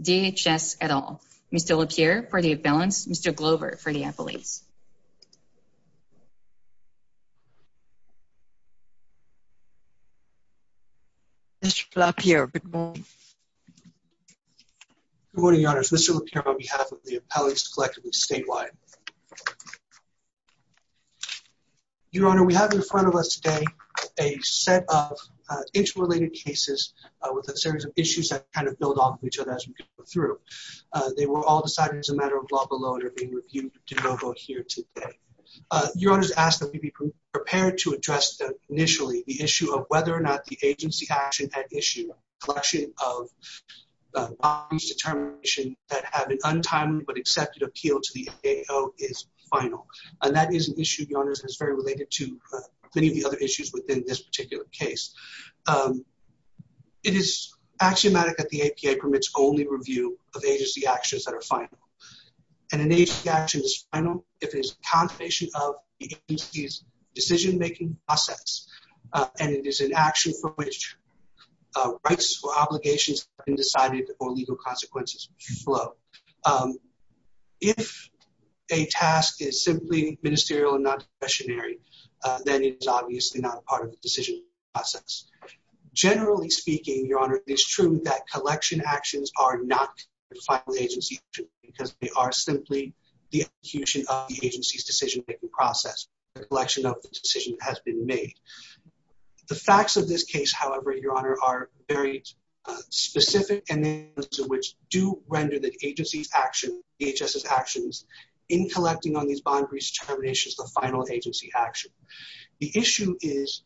DHS-Edall. Mr. LaPierre for the balance, Mr. Glover for the appellate. Mr. LaPierre, good morning. Good morning, Your Honors. This is LaPierre on behalf of the Appellates Collectively Statewide. Your Honor, we have in front of us today a set of inch-related cases with a series of issues that kind of build off of each other as we go through. They were all decided as a matter of law below and are being reviewed de novo here today. Your Honor is asked that we be prepared to address initially the issue of whether or not the agency action at issue, collection of bodies determination that have an untimely but accepted appeal to the AO is final. And that is an issue, Your Honors, that's very related to many of the other issues within this particular case. It is axiomatic that the APA permits only review of agency actions that are final. And an agency action is final if it is a confirmation of the agency's decision-making process. And it is an action for which rights or obligations have been decided or legal consequences flow. If a task is simply ministerial and not discretionary, then it is obviously not part of the decision process. Generally speaking, Your Honor, it is true that collection actions are not the final agency action because they are simply the execution of the agency's decision-making process. The collection of the decision has been made. The facts of this case, however, Your Honor, are very specific and those of which do render the agency's action, DHS's actions, in collecting on these bodies determinations the final agency action. The issue is,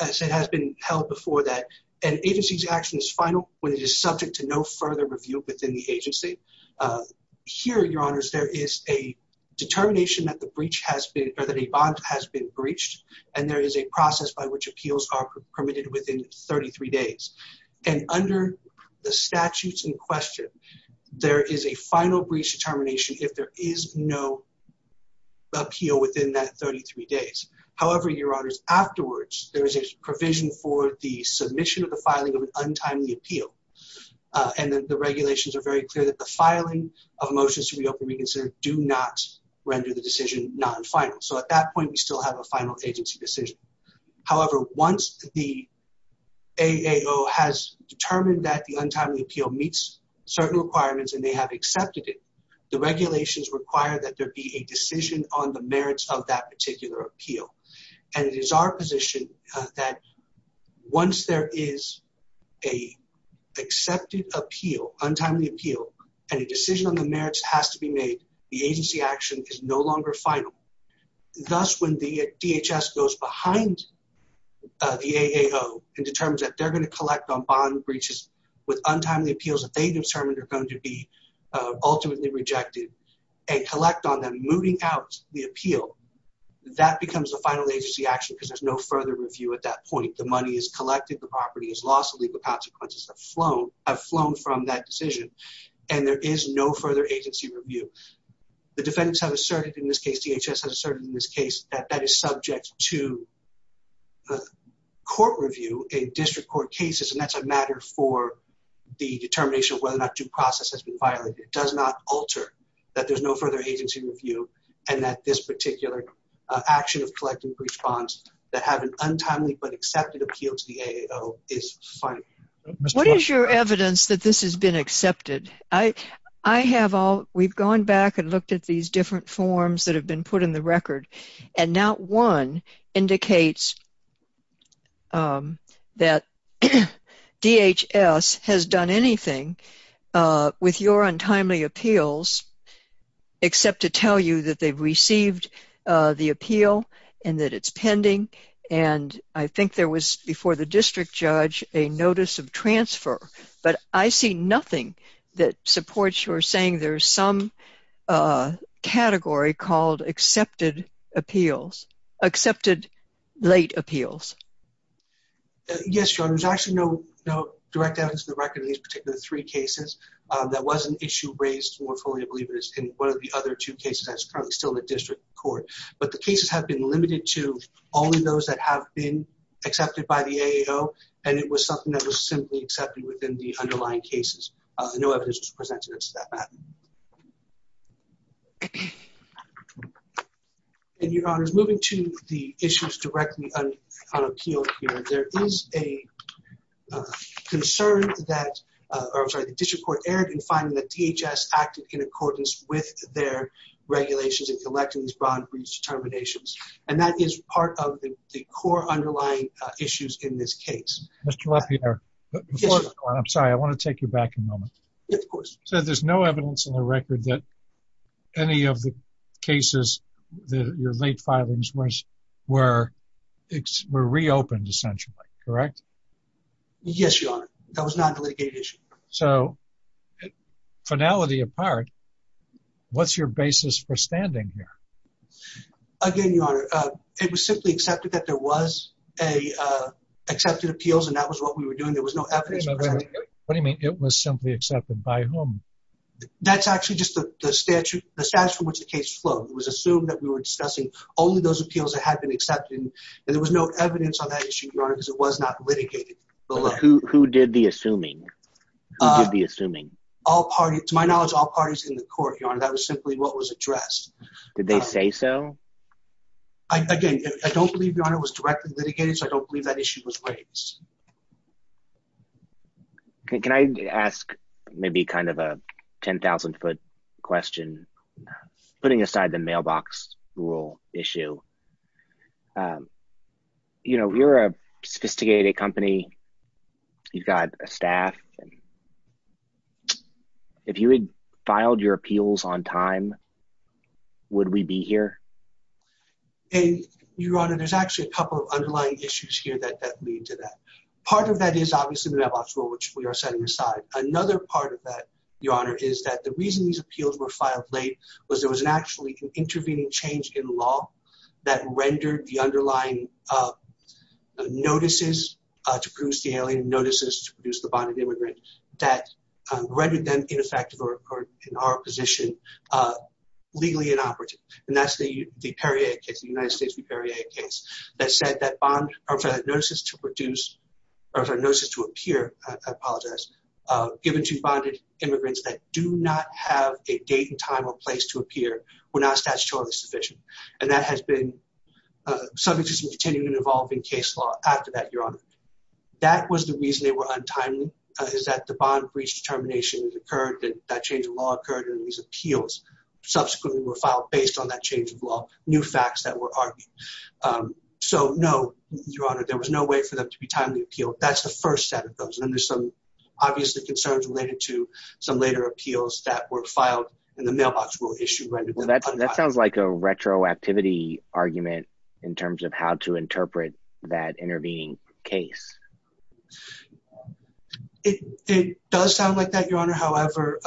as it has been held before, that an agency's action is final when it is subject to no further review within the agency. Here, Your Honors, there is a determination that the breach has been or that a bond has been breached and there is a process by which appeals are permitted within 33 days. And under the statutes in question, there is a final breach determination if there is no appeal within that 33 days. However, Your Honors, afterwards, there is provision for the submission of the filing of an untimely appeal. And the regulations are very clear that the filing of motions to reopen reconsider do not render the decision non-final. So at that point, we still have a final agency decision. However, once the AAO has determined that the untimely appeal meets certain requirements and they have accepted it, the regulations require that there be a decision on the merits of that particular appeal. And it is our position that once there is an accepted appeal, untimely appeal, and a decision on the merits has to be made, the agency action is no longer final. Thus, when the DHS goes behind the AAO and determines that they're going to collect on bond breaches with untimely appeals that they determined are going to be ultimately rejected and collect on them, moving out the appeal, that becomes a final agency action because there's no further review at that point. The money is collected. The property is lost. The legal consequences have flown from that decision. And there is no further agency review. The defendants have asserted in this case, DHS has asserted in this case, that that is subject to court review in district court cases. And that's a matter for the determination of whether or not due to court review and that this particular action of collecting for each bonds that have an untimely but accepted appeal to the AAO is final. What is your evidence that this has been accepted? I have all, we've gone back and looked at these different forms that have been put in the record and not one indicates that DHS has done anything with your untimely appeals except to tell you that they've received the appeal and that it's pending. And I think there was, before the district judge, a notice of transfer, but I see nothing that supports your saying there's some category called accepted appeals, accepted late appeals. Yes, Your Honor. There's actually no direct evidence in the record in these particular three cases. That was an issue raised more fully, I believe it is, in one of the other two cases that's currently still in the district court. But the cases have been limited to only those that have been accepted by the AAO. And it was something that was simply accepted within the underlying cases. No evidence was presented as to that matter. And Your Honor, moving to the issues directly on appeal here, there is a concern that, I'm sorry, the district court erred in finding that DHS acted in accordance with their regulations in collecting these broad breach determinations. And that is part of the core underlying issues in this case. Mr. LaPierre, before you go on, I'm sorry, I want to take you back a moment. Yes, of course. You said there's no evidence in the record that any of the cases, your late filings, were reopened, essentially, correct? Yes, Your Honor. That was not a litigated issue. So, finality apart, what's your basis for standing here? Again, Your Honor, it was simply accepted that there was accepted appeals and that was what we were doing. There was no evidence presented. What do you mean, it was simply accepted? By whom? That's actually just the statute, the status from which the case flowed. It was assumed that we were discussing only those appeals that had been accepted and there was no evidence on that issue, Your Honor, because it was not litigated. Who did the assuming? All parties, to my knowledge, all parties in the court, Your Honor. That was simply what was addressed. Did they say so? Again, I don't believe, Your Honor, it was directly litigated, so I don't believe that issue was raised. Can I ask maybe kind of a 10,000-foot question, putting aside the mailbox rule issue? You know, you're a sophisticated company. You've got a staff. If you had filed your appeals on time, would we be here? Your Honor, there's actually a couple of underlying issues here that lead to that. Part of that is obviously the mailbox rule, which we are setting aside. Another part of that, Your Honor, is that the reason these appeals were filed late was there was actually an intervening change in law that rendered the underlying notices to produce the alien, notices to produce the bonded immigrant, that rendered them ineffective or, in our position, legally inoperative. And that's the Perrier case, the United States v. Perrier case, that said that bond notices to produce, or notices to appear, I apologize, given to bonded immigrants that do not have a date and time or place to appear were not statutorily sufficient. And that has been subject to some continued and evolving case law after that, Your Honor. That was the reason they were untimely, is that the bond breach determination occurred, that change in law occurred, and these appeals subsequently were filed based on that change in law, new facts that were argued. So, no, Your Honor, there was no way for them to be timely appealed. That's the first set of those. And then there's some, obviously, concerns related to some later appeals that were filed in the mailbox rule issue. Well, that sounds like a retroactivity argument in terms of how to interpret that intervening case. It does sound like that, Your Honor. However,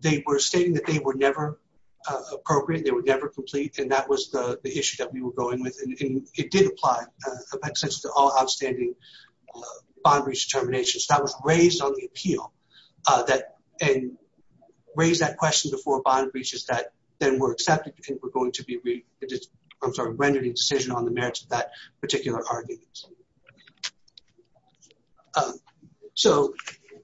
they were stating that they were never appropriate, they were never complete, and that was the issue that we were going with. And it did apply, in a sense, to all outstanding bond breach determinations. That was raised on the appeal. And raised that question before bond breaches that then were accepted and were going to be, I'm sorry, rendered indecision on the merits of that particular argument. So,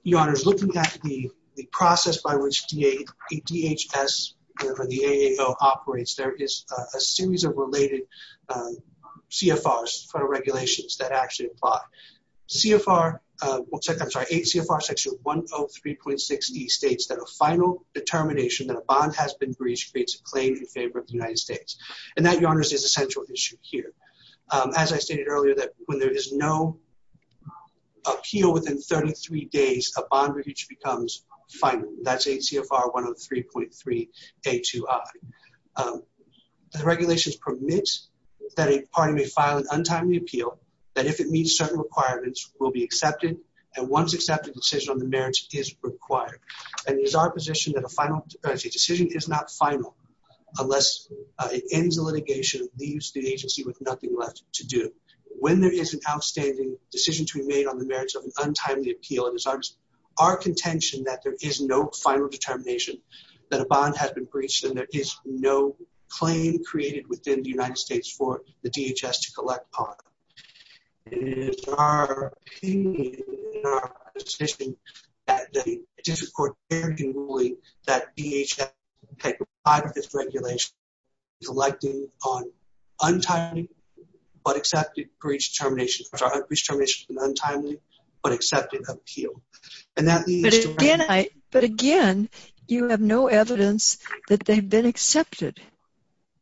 Your Honor, looking at the process by which DHS or the AAO operates, there is a series of related CFRs, federal regulations, that actually apply. CFR, I'm sorry, CFR section 103.6E states that a final determination that a bond has been breached creates a claim in favor of the United States. And that, Your Honor, is a central issue here. As I stated earlier, that when there is no appeal within 33 days, a bond breach becomes final. That's ACFR 103.3A2I. The regulations permit that a party may file an untimely appeal, that if it meets certain requirements, will be accepted, and once accepted, a decision on the merits is required. And it is our position that a final decision is not final unless it ends the litigation, leaves the agency with nothing left to do. When there is an outstanding decision to be made on the merits of an untimely appeal, it is our contention that there is no final determination that a bond has been breached and there is no claim created within the United States for the DHS to collect on. In our opinion, in our position, that the District Court can rule that DHS can take part of this regulation collecting on untimely but accepted breach determinations, breach determinations of an untimely but accepted appeal. And that leads to- But again, you have no evidence that they've been accepted.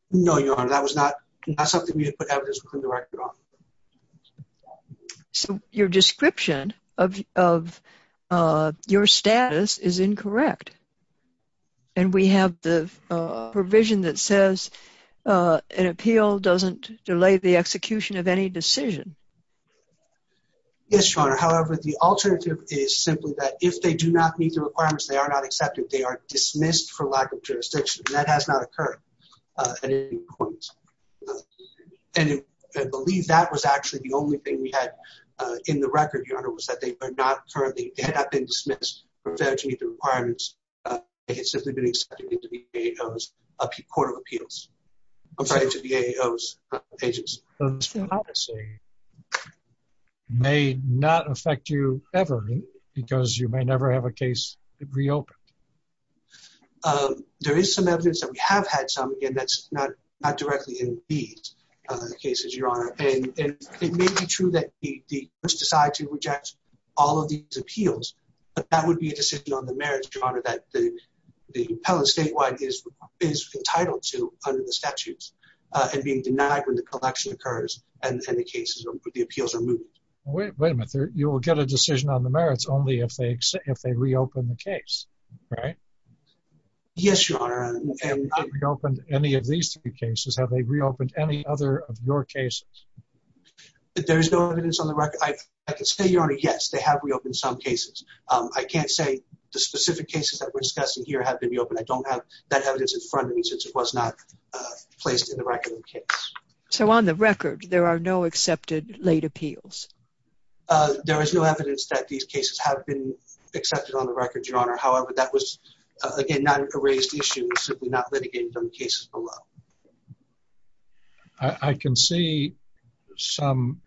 No, Your Honor. That was not something we had put evidence within the record on. So your description of your status is incorrect. And we have the provision that says an appeal doesn't delay the execution of any decision. Yes, Your Honor. However, the alternative is simply that if they do not meet the requirements, they are not accepted. They are dismissed for lack of jurisdiction. That has not occurred at any point. And I believe that was actually the only thing we had in the record, Your Honor, was that they had not been dismissed for failing to meet the requirements. They had simply been accepted into the DAO's Court of Appeals. I'm sorry, into the DAO's agency. So this policy may not affect you ever because you may never have a case reopened. There is some evidence that we have had some. Again, that's not directly in these cases, Your Honor. It may be true that the courts decide to reject all of these appeals, but that would be a decision on the merits, Your Honor, that the appellant statewide is entitled to under the statutes and being denied when the collection occurs and the cases or the appeals are moved. Wait a minute. You will get a decision on the merits only if they reopen the case, right? Yes, Your Honor. We have not reopened any of these three cases. Have they reopened any other of your cases? There is no evidence on the record. I can say, Your Honor, yes, they have reopened some cases. I can't say the specific cases that we're discussing here have been reopened. I don't have that evidence in front of me since it was not placed in the record of the case. So on the record, there are no accepted late appeals? There is no evidence that these cases have been accepted on the record, Your Honor. However, that was, again, not a raised issue. It was simply not litigated on the cases below. I can see some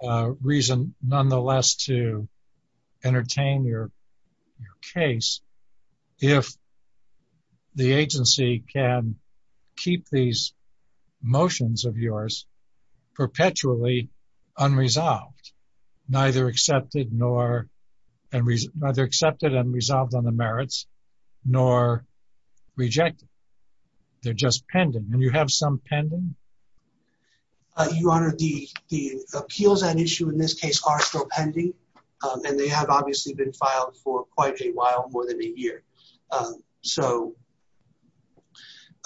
reason, nonetheless, to entertain your case if the agency can keep these motions of yours perpetually unresolved, neither accepted and resolved on the merits, nor rejected. They're just pending. And you have some pending? Your Honor, the appeals on issue in this case are still pending, and they have obviously been filed for quite a while, more than a year. So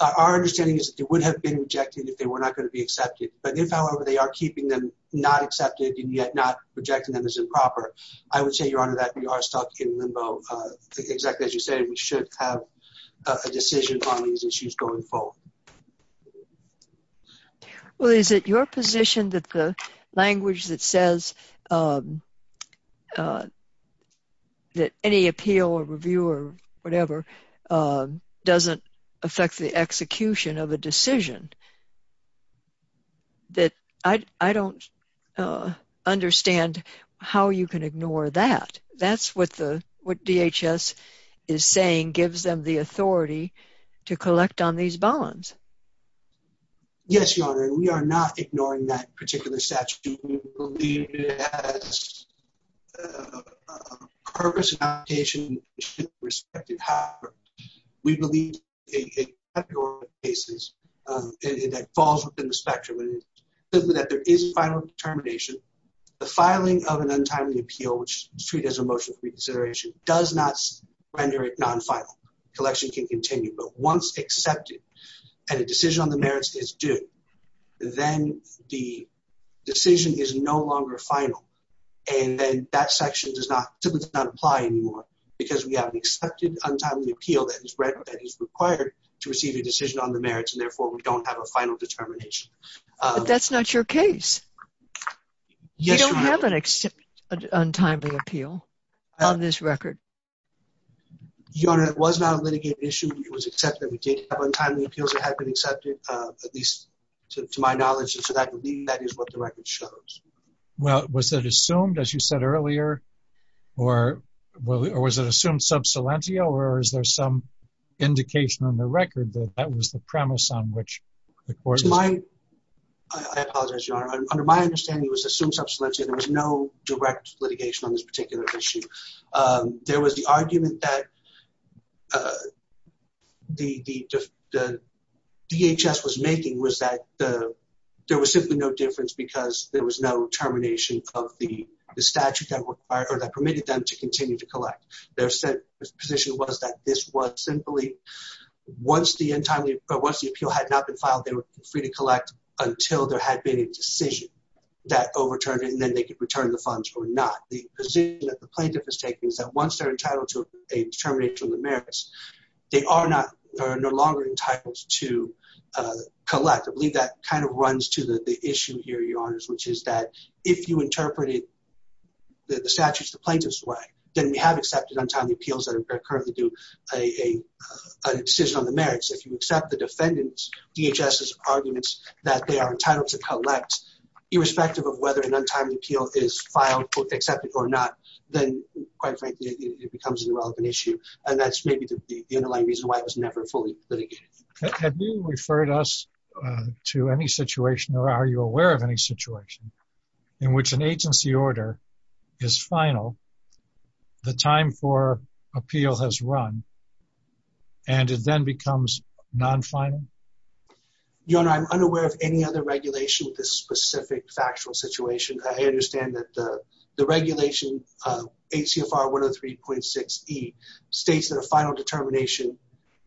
our understanding is that they would have been rejected if they were not going to be accepted. But if, however, they are keeping them not accepted and yet not rejecting them as improper, I would say, Your Honor, that we are stuck in limbo. Exactly as you say, we should have a decision on these issues going forward. Well, is it your position that the language that says that any appeal or review or whatever doesn't affect the execution of a decision that I don't understand how you can ignore that? That's what DHS is saying gives them the authority to collect on these bonds. Yes, Your Honor. We are not ignoring that particular statute. We believe it has a purpose and application that should be respected however. We believe it falls within the spectrum and that there is final determination. The filing of an untimely appeal, which is treated as a motion for reconsideration, does not render it non-final. Collection can continue. But once accepted and a decision on the merits is due, then the decision is no longer final. And then that section does not apply anymore because we have an accepted untimely appeal that is required to receive a decision on the merits and therefore we don't have a final determination. But that's not your case. Yes, Your Honor. You don't have an untimely appeal on this record. Your Honor, it was not a litigated issue. It was accepted. We did have untimely appeals that had been accepted, at least to my knowledge, and so I believe that is what the record shows. Well, was it assumed, as you said earlier, or was it assumed sub salentia or is there some indication on the record that that was the premise on which the court... I apologize, Your Honor. Under my understanding, it was assumed sub salentia. There was no direct litigation on this particular issue. There was the argument that the DHS was making was that there was simply no difference because there was no termination of the statute that permitted them to continue to collect. Their position was that this was simply once the appeal had not been filed, they were free to collect until there had been a decision that overturned it and then they could return the funds or not. The position that the plaintiff is taking is that once they're entitled to a termination of the merits, they are no longer entitled to collect. I believe that kind of runs to the issue here, Your Honors, which is that if you interpreted the statutes the plaintiff's way, then we have accepted untimely appeals that occur to do a decision on the merits. If you accept the defendant's, DHS's arguments that they are entitled to collect irrespective of whether an untimely appeal is filed, accepted or not, then, quite frankly, it becomes an irrelevant issue and that's maybe the underlying reason why it was never fully litigated. Have you referred us to any situation or are you aware of any situation in which an agency order is final, the time for appeal has run, and it then becomes non-final? Your Honor, I'm unaware of any other regulation with this specific factual situation. I understand that the regulation, HCFR 103.6E, states that a final determination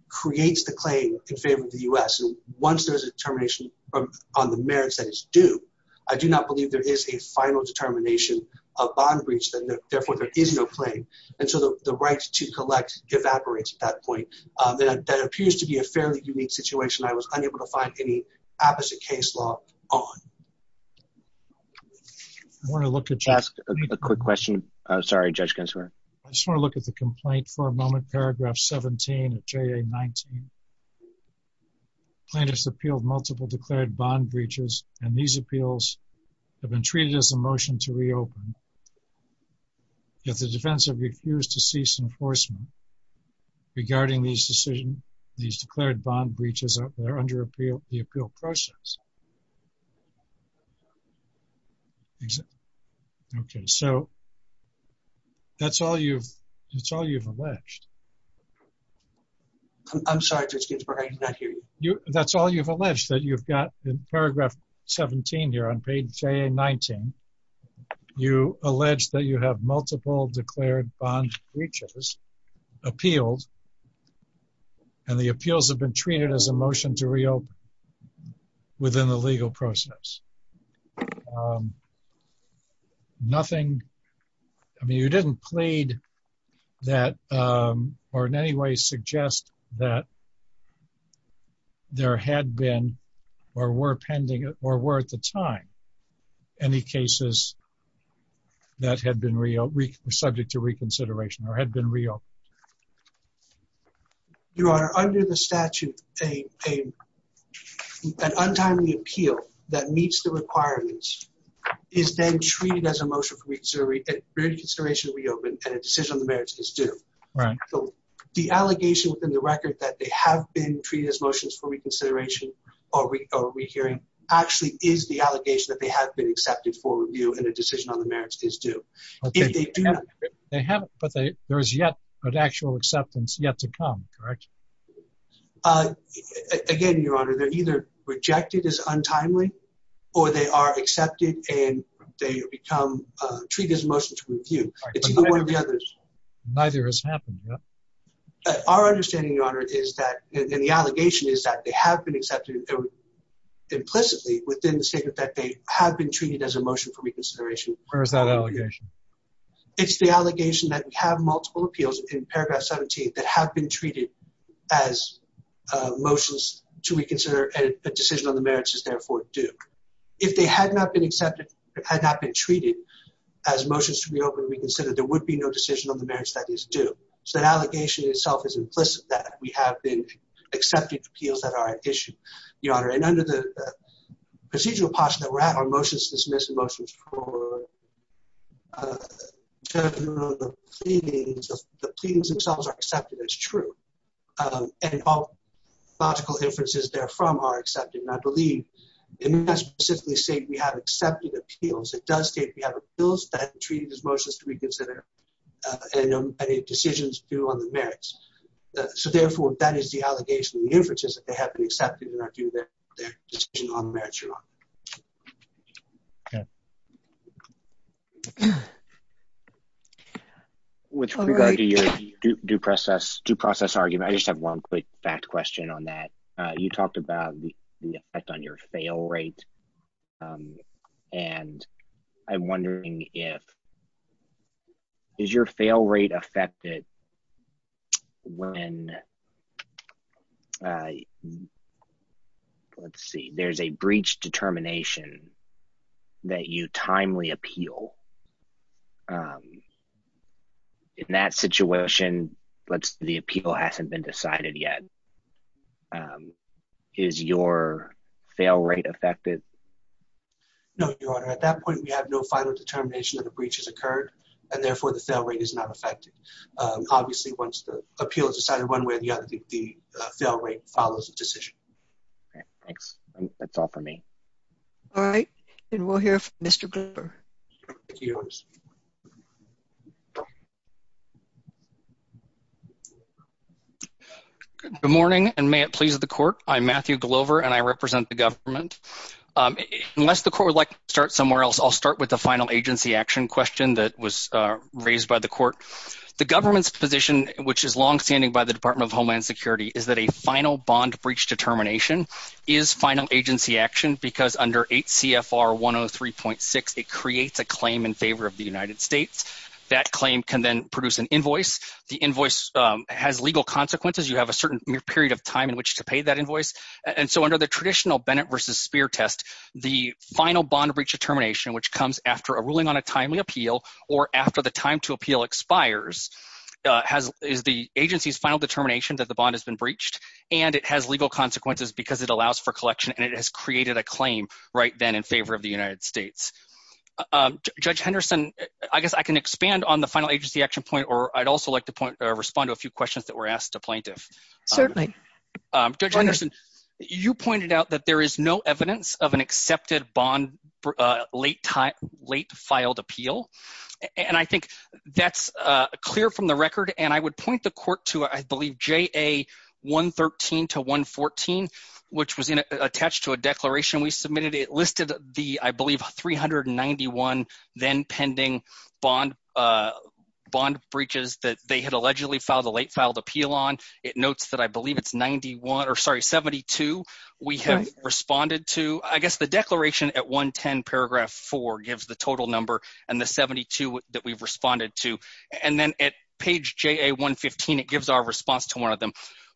creates the claim in favor of the U.S. and once there's a termination on the merits that is due, I do not believe there is a final determination of bond breach, therefore there is no claim and so the right to collect evaporates at that point. That appears to be a fairly unique situation I was unable to find any apposite case law on. I just want to look at the complaint for a moment, paragraph 17 of JA-19. Plaintiffs appealed multiple declared bond breaches and these appeals have been treated as a motion to reopen. Yet the defense have refused to cease enforcement regarding these declared bond breaches that are under the appeal process. Okay, so that's all you've alleged. I'm sorry, Judge Ginsburg, I did not hear you. That's all you've alleged that you've got in paragraph 17 here on page JA-19. You allege that you have multiple declared bond breaches appealed and the appeals have been treated as a motion to reopen within the legal process. Nothing, I mean you didn't plead that or in any way suggest that there had been or were pending or were at the time any cases that had been subject to reconsideration or had been reopened. Your Honor, under the statute an untimely appeal that meets the requirements is then treated as a motion for reconsideration to reopen and a decision on the merits is due. The allegation within the record that they have been treated as motions for reconsideration or rehearing actually is the allegation that they have been accepted for review and a decision on the merits is due. They haven't, but there is yet an actual acceptance yet to come, correct? Again, Your Honor, they're either rejected as untimely or they are accepted and they become treated as a motion to review. It's one or the other. Neither has happened yet. Our understanding, Your Honor, is that and the allegation is that they have been accepted implicitly within the statement that they have been treated as a motion for reconsideration. Where is that allegation? It's the allegation that we have multiple appeals in paragraph 17 that have been treated as motions to reconsider and a decision on the merits is therefore due. If they had not been accepted, had not been treated as motions to reopen and reconsider there would be no decision on the merits that is due. So that allegation itself is implicit that we have been accepting appeals that are at issue, Your Honor. And under the procedural posture that we're at, are motions to dismiss and motions for general pleadings, the pleadings themselves are accepted as true. And all logical inferences therefrom are accepted. And I believe it must specifically state we have accepted appeals. It does state we have appeals that have been treated as motions to reconsider and a decision due on the merits. So therefore, that is the allegation. The inference is that they have been accepted and are due their decision on the merits, Your Honor. Okay. With regard to your due process argument, I just have one quick fact question on that. You talked about the effect on your fail rate. And I'm wondering if, is your fail rate affected when let's see, there's a breach determination that you timely appeal. In that situation, the appeal hasn't been decided yet. Is your fail rate affected? No, Your Honor. At that point, we have no final determination that a breach has occurred. And therefore, the fail rate is not affected. Obviously, once the appeal is decided, one way or the other, the fail rate follows the decision. Thanks. That's all for me. All right. And we'll hear from Mr. Glover. Good morning, and may it please the court. I'm Matthew Glover, and I represent the government. Unless the court would like to start somewhere else, I'll start with the final agency action question that was raised by the court. The government's position, which is longstanding by the Department of Homeland Security, is that a final bond breach determination is final agency action because under 8 CFR 103.6, it creates a claim in favor of the United States. That claim can then produce an invoice. The invoice has legal consequences. You have a certain period of time in which to pay that invoice. And so under the traditional Bennett versus Spear test, the final bond breach determination, which comes after a ruling on a timely appeal or after the time to appeal expires, is the agency's final determination that the bond has been breached, and it has legal consequences because it allows for collection, and it has created a claim right then in favor of the United States. Judge Henderson, I guess I can expand on the final agency action point, or I'd also like to respond to a few questions that were asked to plaintiffs. Certainly. Judge Henderson, you pointed out that there is no evidence of an accepted bond late filed appeal, and I think that's clear from the record, and I would point the court to, I believe, JA 113 to 114, which was attached to a declaration we submitted. It listed the, I believe, 391 then pending bond breaches that they had allegedly filed a late filed appeal on. It notes that I believe it's 72 we have responded to. I guess the declaration at the end of it is the original number and the 72 that we've responded to, and then at page JA 115, it gives our response to one of them.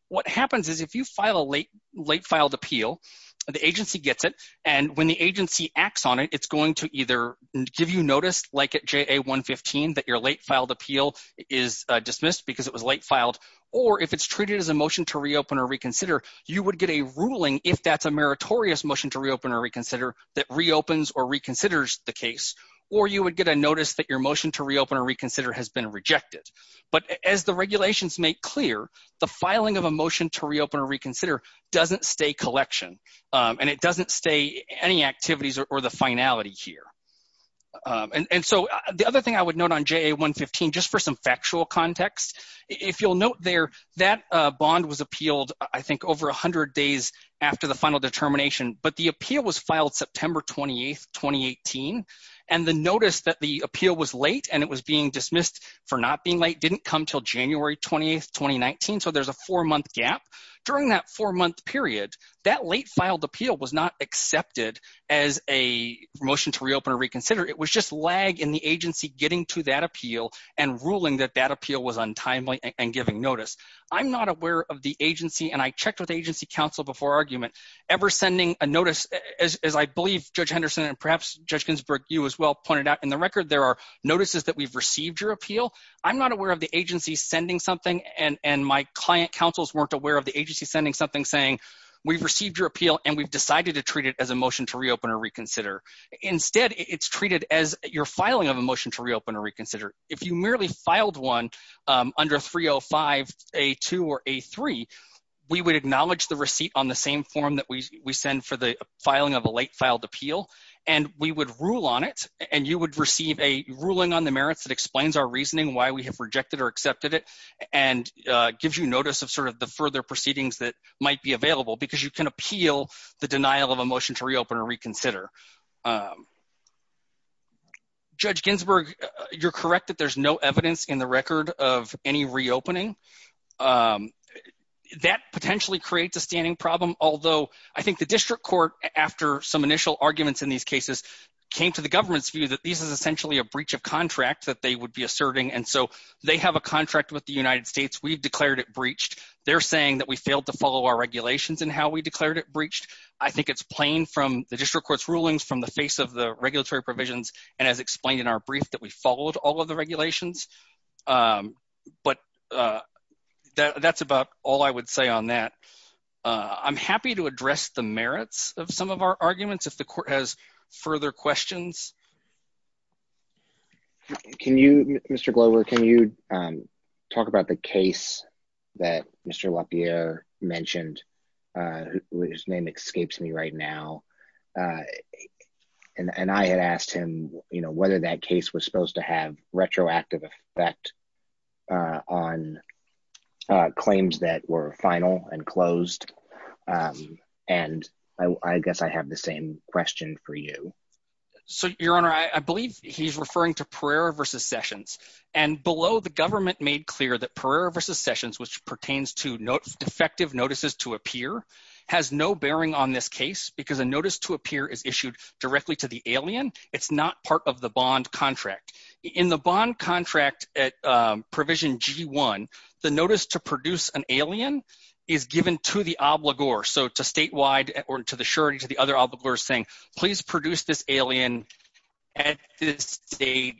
What happens is if you file a late filed appeal, the agency gets it, and when the agency acts on it, it's going to either give you notice, like at JA 115, that your late filed appeal is dismissed because it was late filed, or if it's treated as a motion to reopen or reconsider, you would get a ruling if that's a meritorious motion to reopen or reconsider that reopens or reconsiders the case, or you would get a notice that your motion to reopen or reconsider has been rejected. But as the regulations make clear, the filing of a motion to reopen or reconsider doesn't stay collection, and it doesn't stay any activities or the finality here. And so the other thing I would note on JA 115, just for some factual context, if you'll note there, that bond was appealed, I think, over 100 days after the final determination, but the appeal was filed September 28, 2018, and the notice that the appeal was late and it was being dismissed for not being late didn't come until January 28, 2019, so there's a four-month gap. During that four-month period, that late filed appeal was not accepted as a motion to reopen or reconsider, it was just lag in the agency getting to that appeal and ruling that that appeal was untimely and giving notice. I'm not aware of the agency, and I checked with the agency counsel before argument, ever sending a notice, as I believe Judge Henderson and perhaps Judge Ginsburg, you as well pointed out in the record, there are notices that we've received your appeal. I'm not aware of the agency sending something, and my client counsels weren't aware of the agency sending something saying, we've received your appeal, and we've decided to treat it as a motion to reopen or reconsider. Instead, it's treated as your filing of a motion to reopen or reconsider. If you merely filed one under 4305A2 or A3, we would acknowledge the receipt on the same form that we send for the filing of a late filed appeal, and we would rule on it, and you would receive a ruling on the merits that explains our reasoning, why we have rejected or accepted it, and gives you notice of sort of the further proceedings that might be available, because you can appeal the denial of a motion to reopen or reconsider. Judge Ginsburg, you're correct that there's no evidence in the record of any reopening. That potentially creates a standing problem, although I think the district court, after some initial arguments in these cases, came to the government's view that this is essentially a breach of contract that they would be asserting, and so they have a contract with the United States. We've declared it breached. They're saying that we failed to follow our regulations in how we declared it breached. I think it's plain from the district court's rulings, from the face of the regulatory provisions, and as I said, it's a breach of our regulations, but that's about all I would say on that. I'm happy to address the merits of some of our arguments if the court has further questions. Can you, Mr. Glover, can you talk about the case that Mr. LaPierre mentioned, whose name escapes me right now, and I had asked him whether that case was supposed to have retroactive effect on claims that were final and closed, and I guess I have the same question for you. Your Honor, I believe he's referring to Pereira v. Sessions, and below, the government made clear that Pereira v. Sessions, which pertains to defective notices to a peer, has no bearing on this case because a notice to a peer is issued directly to the alien. It's not part of the bond contract. In the bond contract at Provision G-1, the notice to produce an alien is given to the obligor, so to statewide or to the surety to the other obligor saying please produce this alien at this date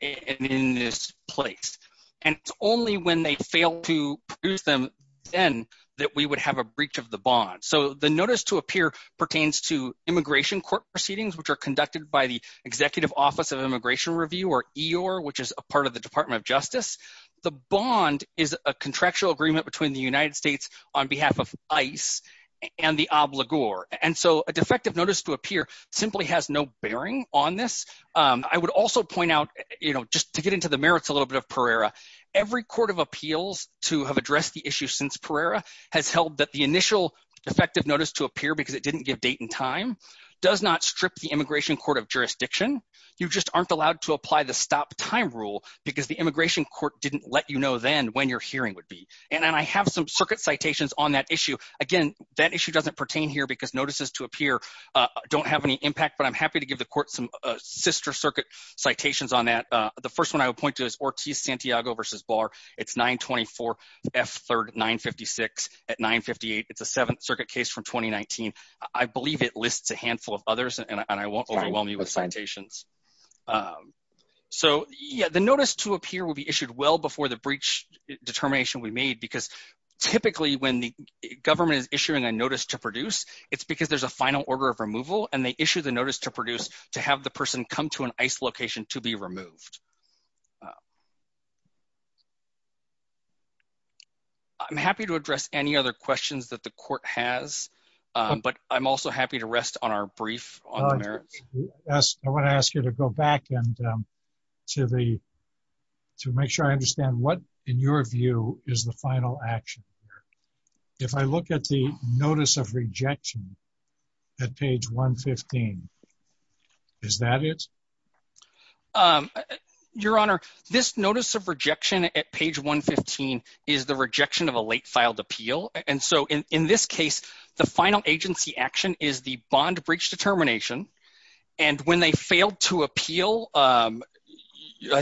and in this place, and it's only when they fail to produce them then that we would have a breach of the bond. So the notice to a peer pertains to immigration court proceedings, which are conducted by the Executive Office of Immigration Review, or EOIR, which is a part of the Department of Justice. The bond is a contractual agreement between the United States on behalf of ICE and the obligor, and so a defective notice to a peer simply has no bearing on this. I would also point out just to get into the merits a little bit of Pereira, every court of appeals to have addressed the issue since Pereira has held that the initial defective notice to a peer because it didn't give date and time does not strip the immigration court of jurisdiction. You just aren't allowed to apply the stop time rule because the immigration court didn't let you know then when your hearing would be. And I have some circuit citations on that issue. Again, that issue doesn't pertain here because notices to a peer don't have any impact, but I'm happy to give the court some sister circuit citations on that. The first one I would point to is Ortiz-Santiago v. Barr. It's 924 F3rd 956 at 958. It's a seventh circuit case from 2019. I believe it lists a handful of others and I won't overwhelm you with citations. So yeah, the notice to a peer will be issued well before the breach determination we made because typically when the government is issuing a notice to produce, it's because there's a final order of removal and they issue the notice to produce to have the person come to an ICE location to be removed. I'm happy to address any other questions that the court has, but I'm also happy to rest on our brief on the merits. I want to ask you to go back and to make sure I understand what in your view is the final action here. If I look at the notice of rejection at page 115, is that it? Your Honor, this notice of rejection at page 115 is the rejection of a late filed appeal. And so in this case, the final agency action is the bond breach determination and when they failed to appeal, I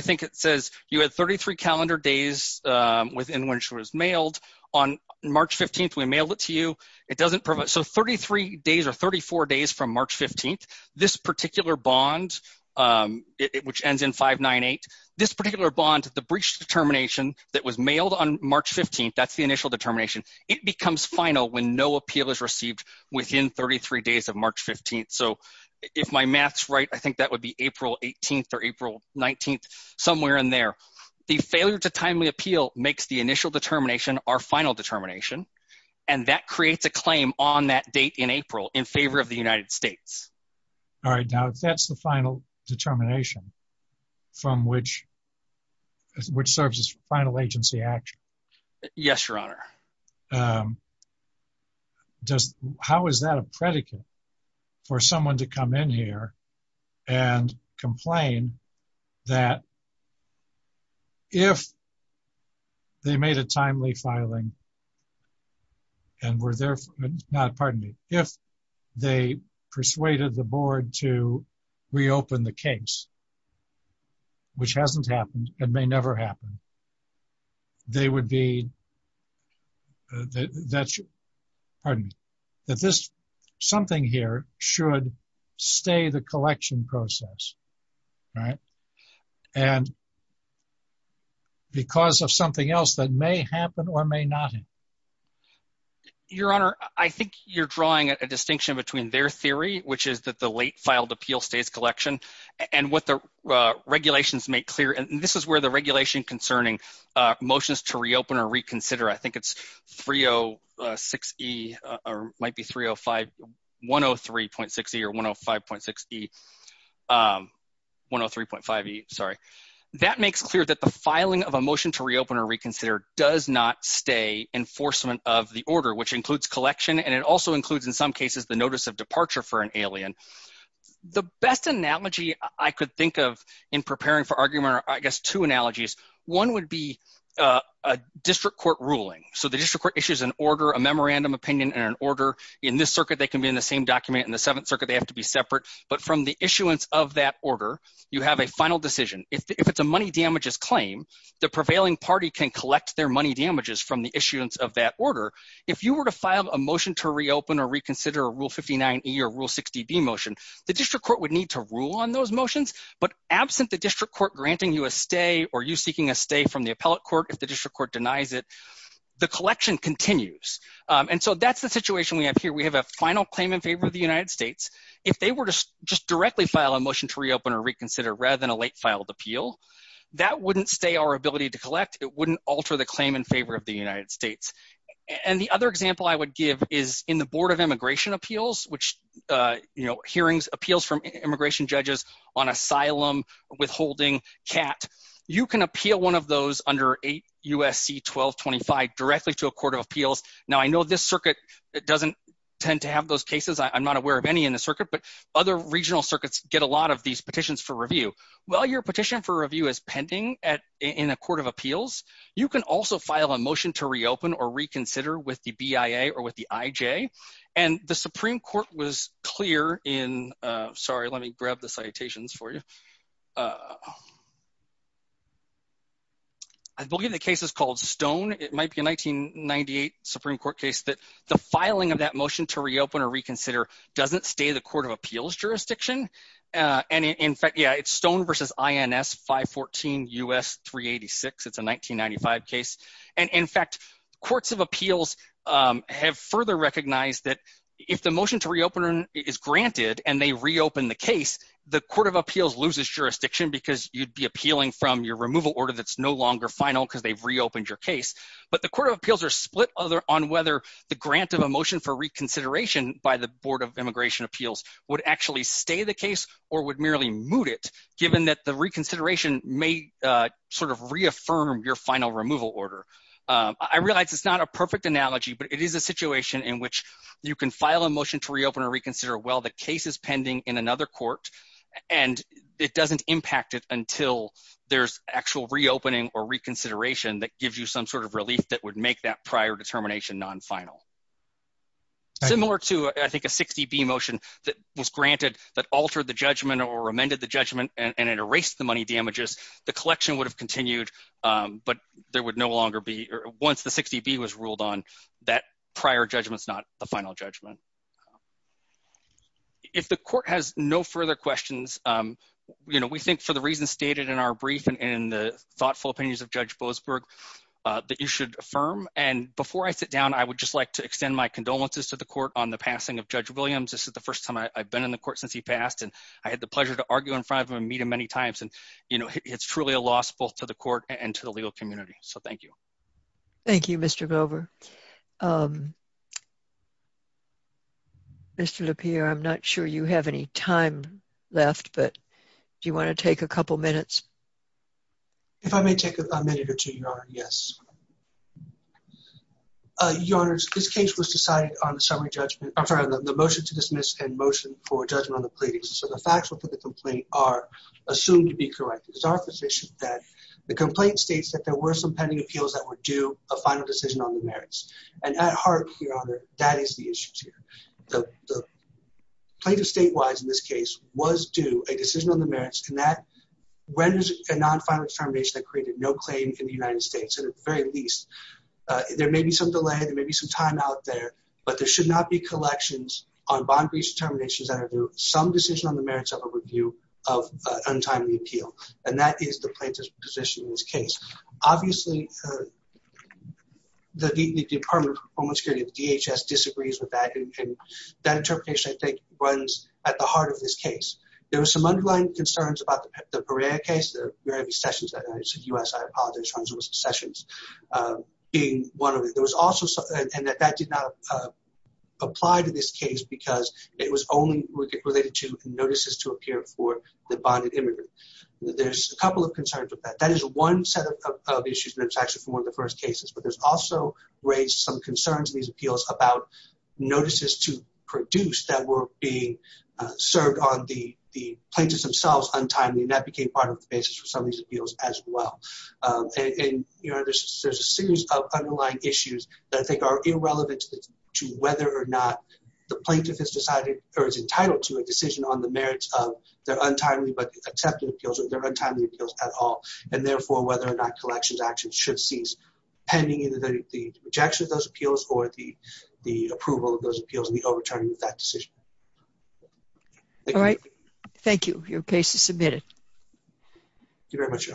think it says you had 33 calendar days within which it was mailed on March 15th. We mailed it to you. It doesn't provide so 33 days or 34 days from March 15th. This particular bond, which ends in 598, this particular bond, the breach determination that was mailed on March 15th. That's the initial determination. It becomes final when no appeal is received within 33 days of March 15th. So if my math's right, I think that would be April 18th or April 19th somewhere in there. The failure to timely appeal makes the initial determination our final determination and that creates a claim on that date in April in favor of the United States. All right. Now that's the final determination from which which serves as final agency action. Yes, Your Honor. How is that a predicate for someone to come in here and complain that if they made a timely filing and were there... Pardon me. If they persuaded the board to reopen the case, which hasn't happened and may never happen, they would be... Pardon me. That this something here should stay the collection process, right? And because of something else that may happen or may not happen. Your Honor, I think you're drawing a distinction between their theory, which is that the late filed appeal stays collection and what the regulations make clear. And this is where the regulation concerning motions to reopen or reconsider. I think it's 306E or might be 305 103.6E or 105.6E 103.5E. Sorry. That makes clear that the filing of a motion to reopen or reconsider does not stay enforcement of the order, which includes collection, and it also includes, in some cases, the notice of departure for an alien. The best analogy I could think of in preparing for argument are, I guess, two analogies. One would be a district court ruling. So the district court issues an order, a memorandum opinion, and an order. In this circuit, they can be in the same document. In the Seventh Circuit, they have to be separate. But from the issuance of that order, you have a final decision. If it's a money damages claim, the prevailing party can collect their money damages from the issuance of that order. If you were to file a motion to reopen or reconsider a Rule 59E or Rule 60B motion, the district court would need to rule on those motions, but absent the district court granting you a stay or you seeking a stay from the appellate court if the district court denies it, the collection continues. And so that's the situation we have here. We have a final claim in favor of the United States. If they were to just directly file a motion to reopen or reconsider rather than a late filed appeal, that wouldn't stay our ability to collect. It wouldn't alter the claim in favor of the United States. And the other example I would give is in the Board of Immigration Appeals, which hearings, appeals from immigration judges on asylum withholding, CAT, you can appeal one of those under 8 U.S.C. 1225 directly to a court of appeals. Now, I know this circuit doesn't tend to have those cases. I'm not aware of any in the circuit, but other regional circuits get a lot of these petitions for review. While your petition for review is pending in a court of appeals, you can also file a motion to reopen or reconsider with the BIA or with the IJ. And the Supreme Court was clear in, sorry, let me grab the citations for you. I believe the case is called Stone. It might be a 1998 Supreme Court case that the filing of that motion to reopen or reconsider doesn't stay the court of appeals jurisdiction. And in fact, yeah, it's Stone v. INS 514 U.S. 386. It's a 1995 case. And in fact, courts of appeals have further recognized that if the motion to reopen is granted and they reopen the case, the court of appeals loses jurisdiction because you'd be appealing from your removal order that's no longer final because they've reopened your case. But the court of appeals are split on whether the grant of a motion for reconsideration by the Board of Immigration Appeals would actually stay the case or would merely moot it given that the reconsideration may sort of reaffirm your final removal order. I realize it's not a perfect analogy, but it is a situation in which you can file a motion to reopen or reconsider while the case is pending in another court and it doesn't impact it until there's actual reopening or reconsideration that gives you some sort of relief that would make that prior determination non-final. Similar to, I think, a 60B motion that was granted that altered the judgment or amended the judgment and it erased the money damages, the collection would have continued, but there would no longer be once the 60B was ruled on that prior judgment's not the final judgment. If the court has no further questions, we think for the reasons stated in our brief and in the thoughtful opinions of Judge Boasberg that you should affirm. And again, my condolences to the court on the passing of Judge Williams. This is the first time I've been in the court since he passed and I had the pleasure to argue in front of him and meet him many times. It's truly a loss both to the court and to the legal community. So thank you. Thank you, Mr. Glover. Mr. LaPierre, I'm not sure you have any time left, but do you want to take a couple minutes? If I may take a minute or two, Your Honor. Yes. Your Honor, this case was decided on the motion to dismiss and motion for judgment on the pleadings. So the facts with the complaint are assumed to be correct. It's our position that the complaint states that there were some pending appeals that were due a final decision on the merits. And at heart, Your Honor, that is the issue here. The plaintiff statewide in this case was due a decision on the merits and that renders a non-final determination that created no claim in the United States, at the very least. There may be some delay. There may be some time out there, but there should not be collections on bond breach determinations that are due some decision on the merits of a review of untimely appeal. And that is the plaintiff's position in this case. Obviously, the Department of Homeland Security, the DHS, disagrees with that, and that interpretation, I think, runs at the heart of this case. There were some underlying concerns about the Perea case, the Perea v. Sessions case in the U.S. I apologize, Sessions being one of them. There was also something, and that did not apply to this case because it was only related to notices to appear for the bonded immigrant. There's a couple of concerns with that. That is one set of issues, and it's actually from one of the first cases. But there's also raised some concerns in these appeals about notices to produce that were being served on the plaintiffs themselves untimely, and that became part of the basis for some of these appeals as well. And there's a series of underlying issues that I think are irrelevant to whether or not the plaintiff has decided or is entitled to a decision on the merits of their untimely but accepted appeals or their untimely appeals at all, and therefore whether or not collections actions should cease, pending either the rejection of those appeals or the approval of those appeals and the overturning of that decision. All right. Thank you. Your case is submitted. Thank you very much.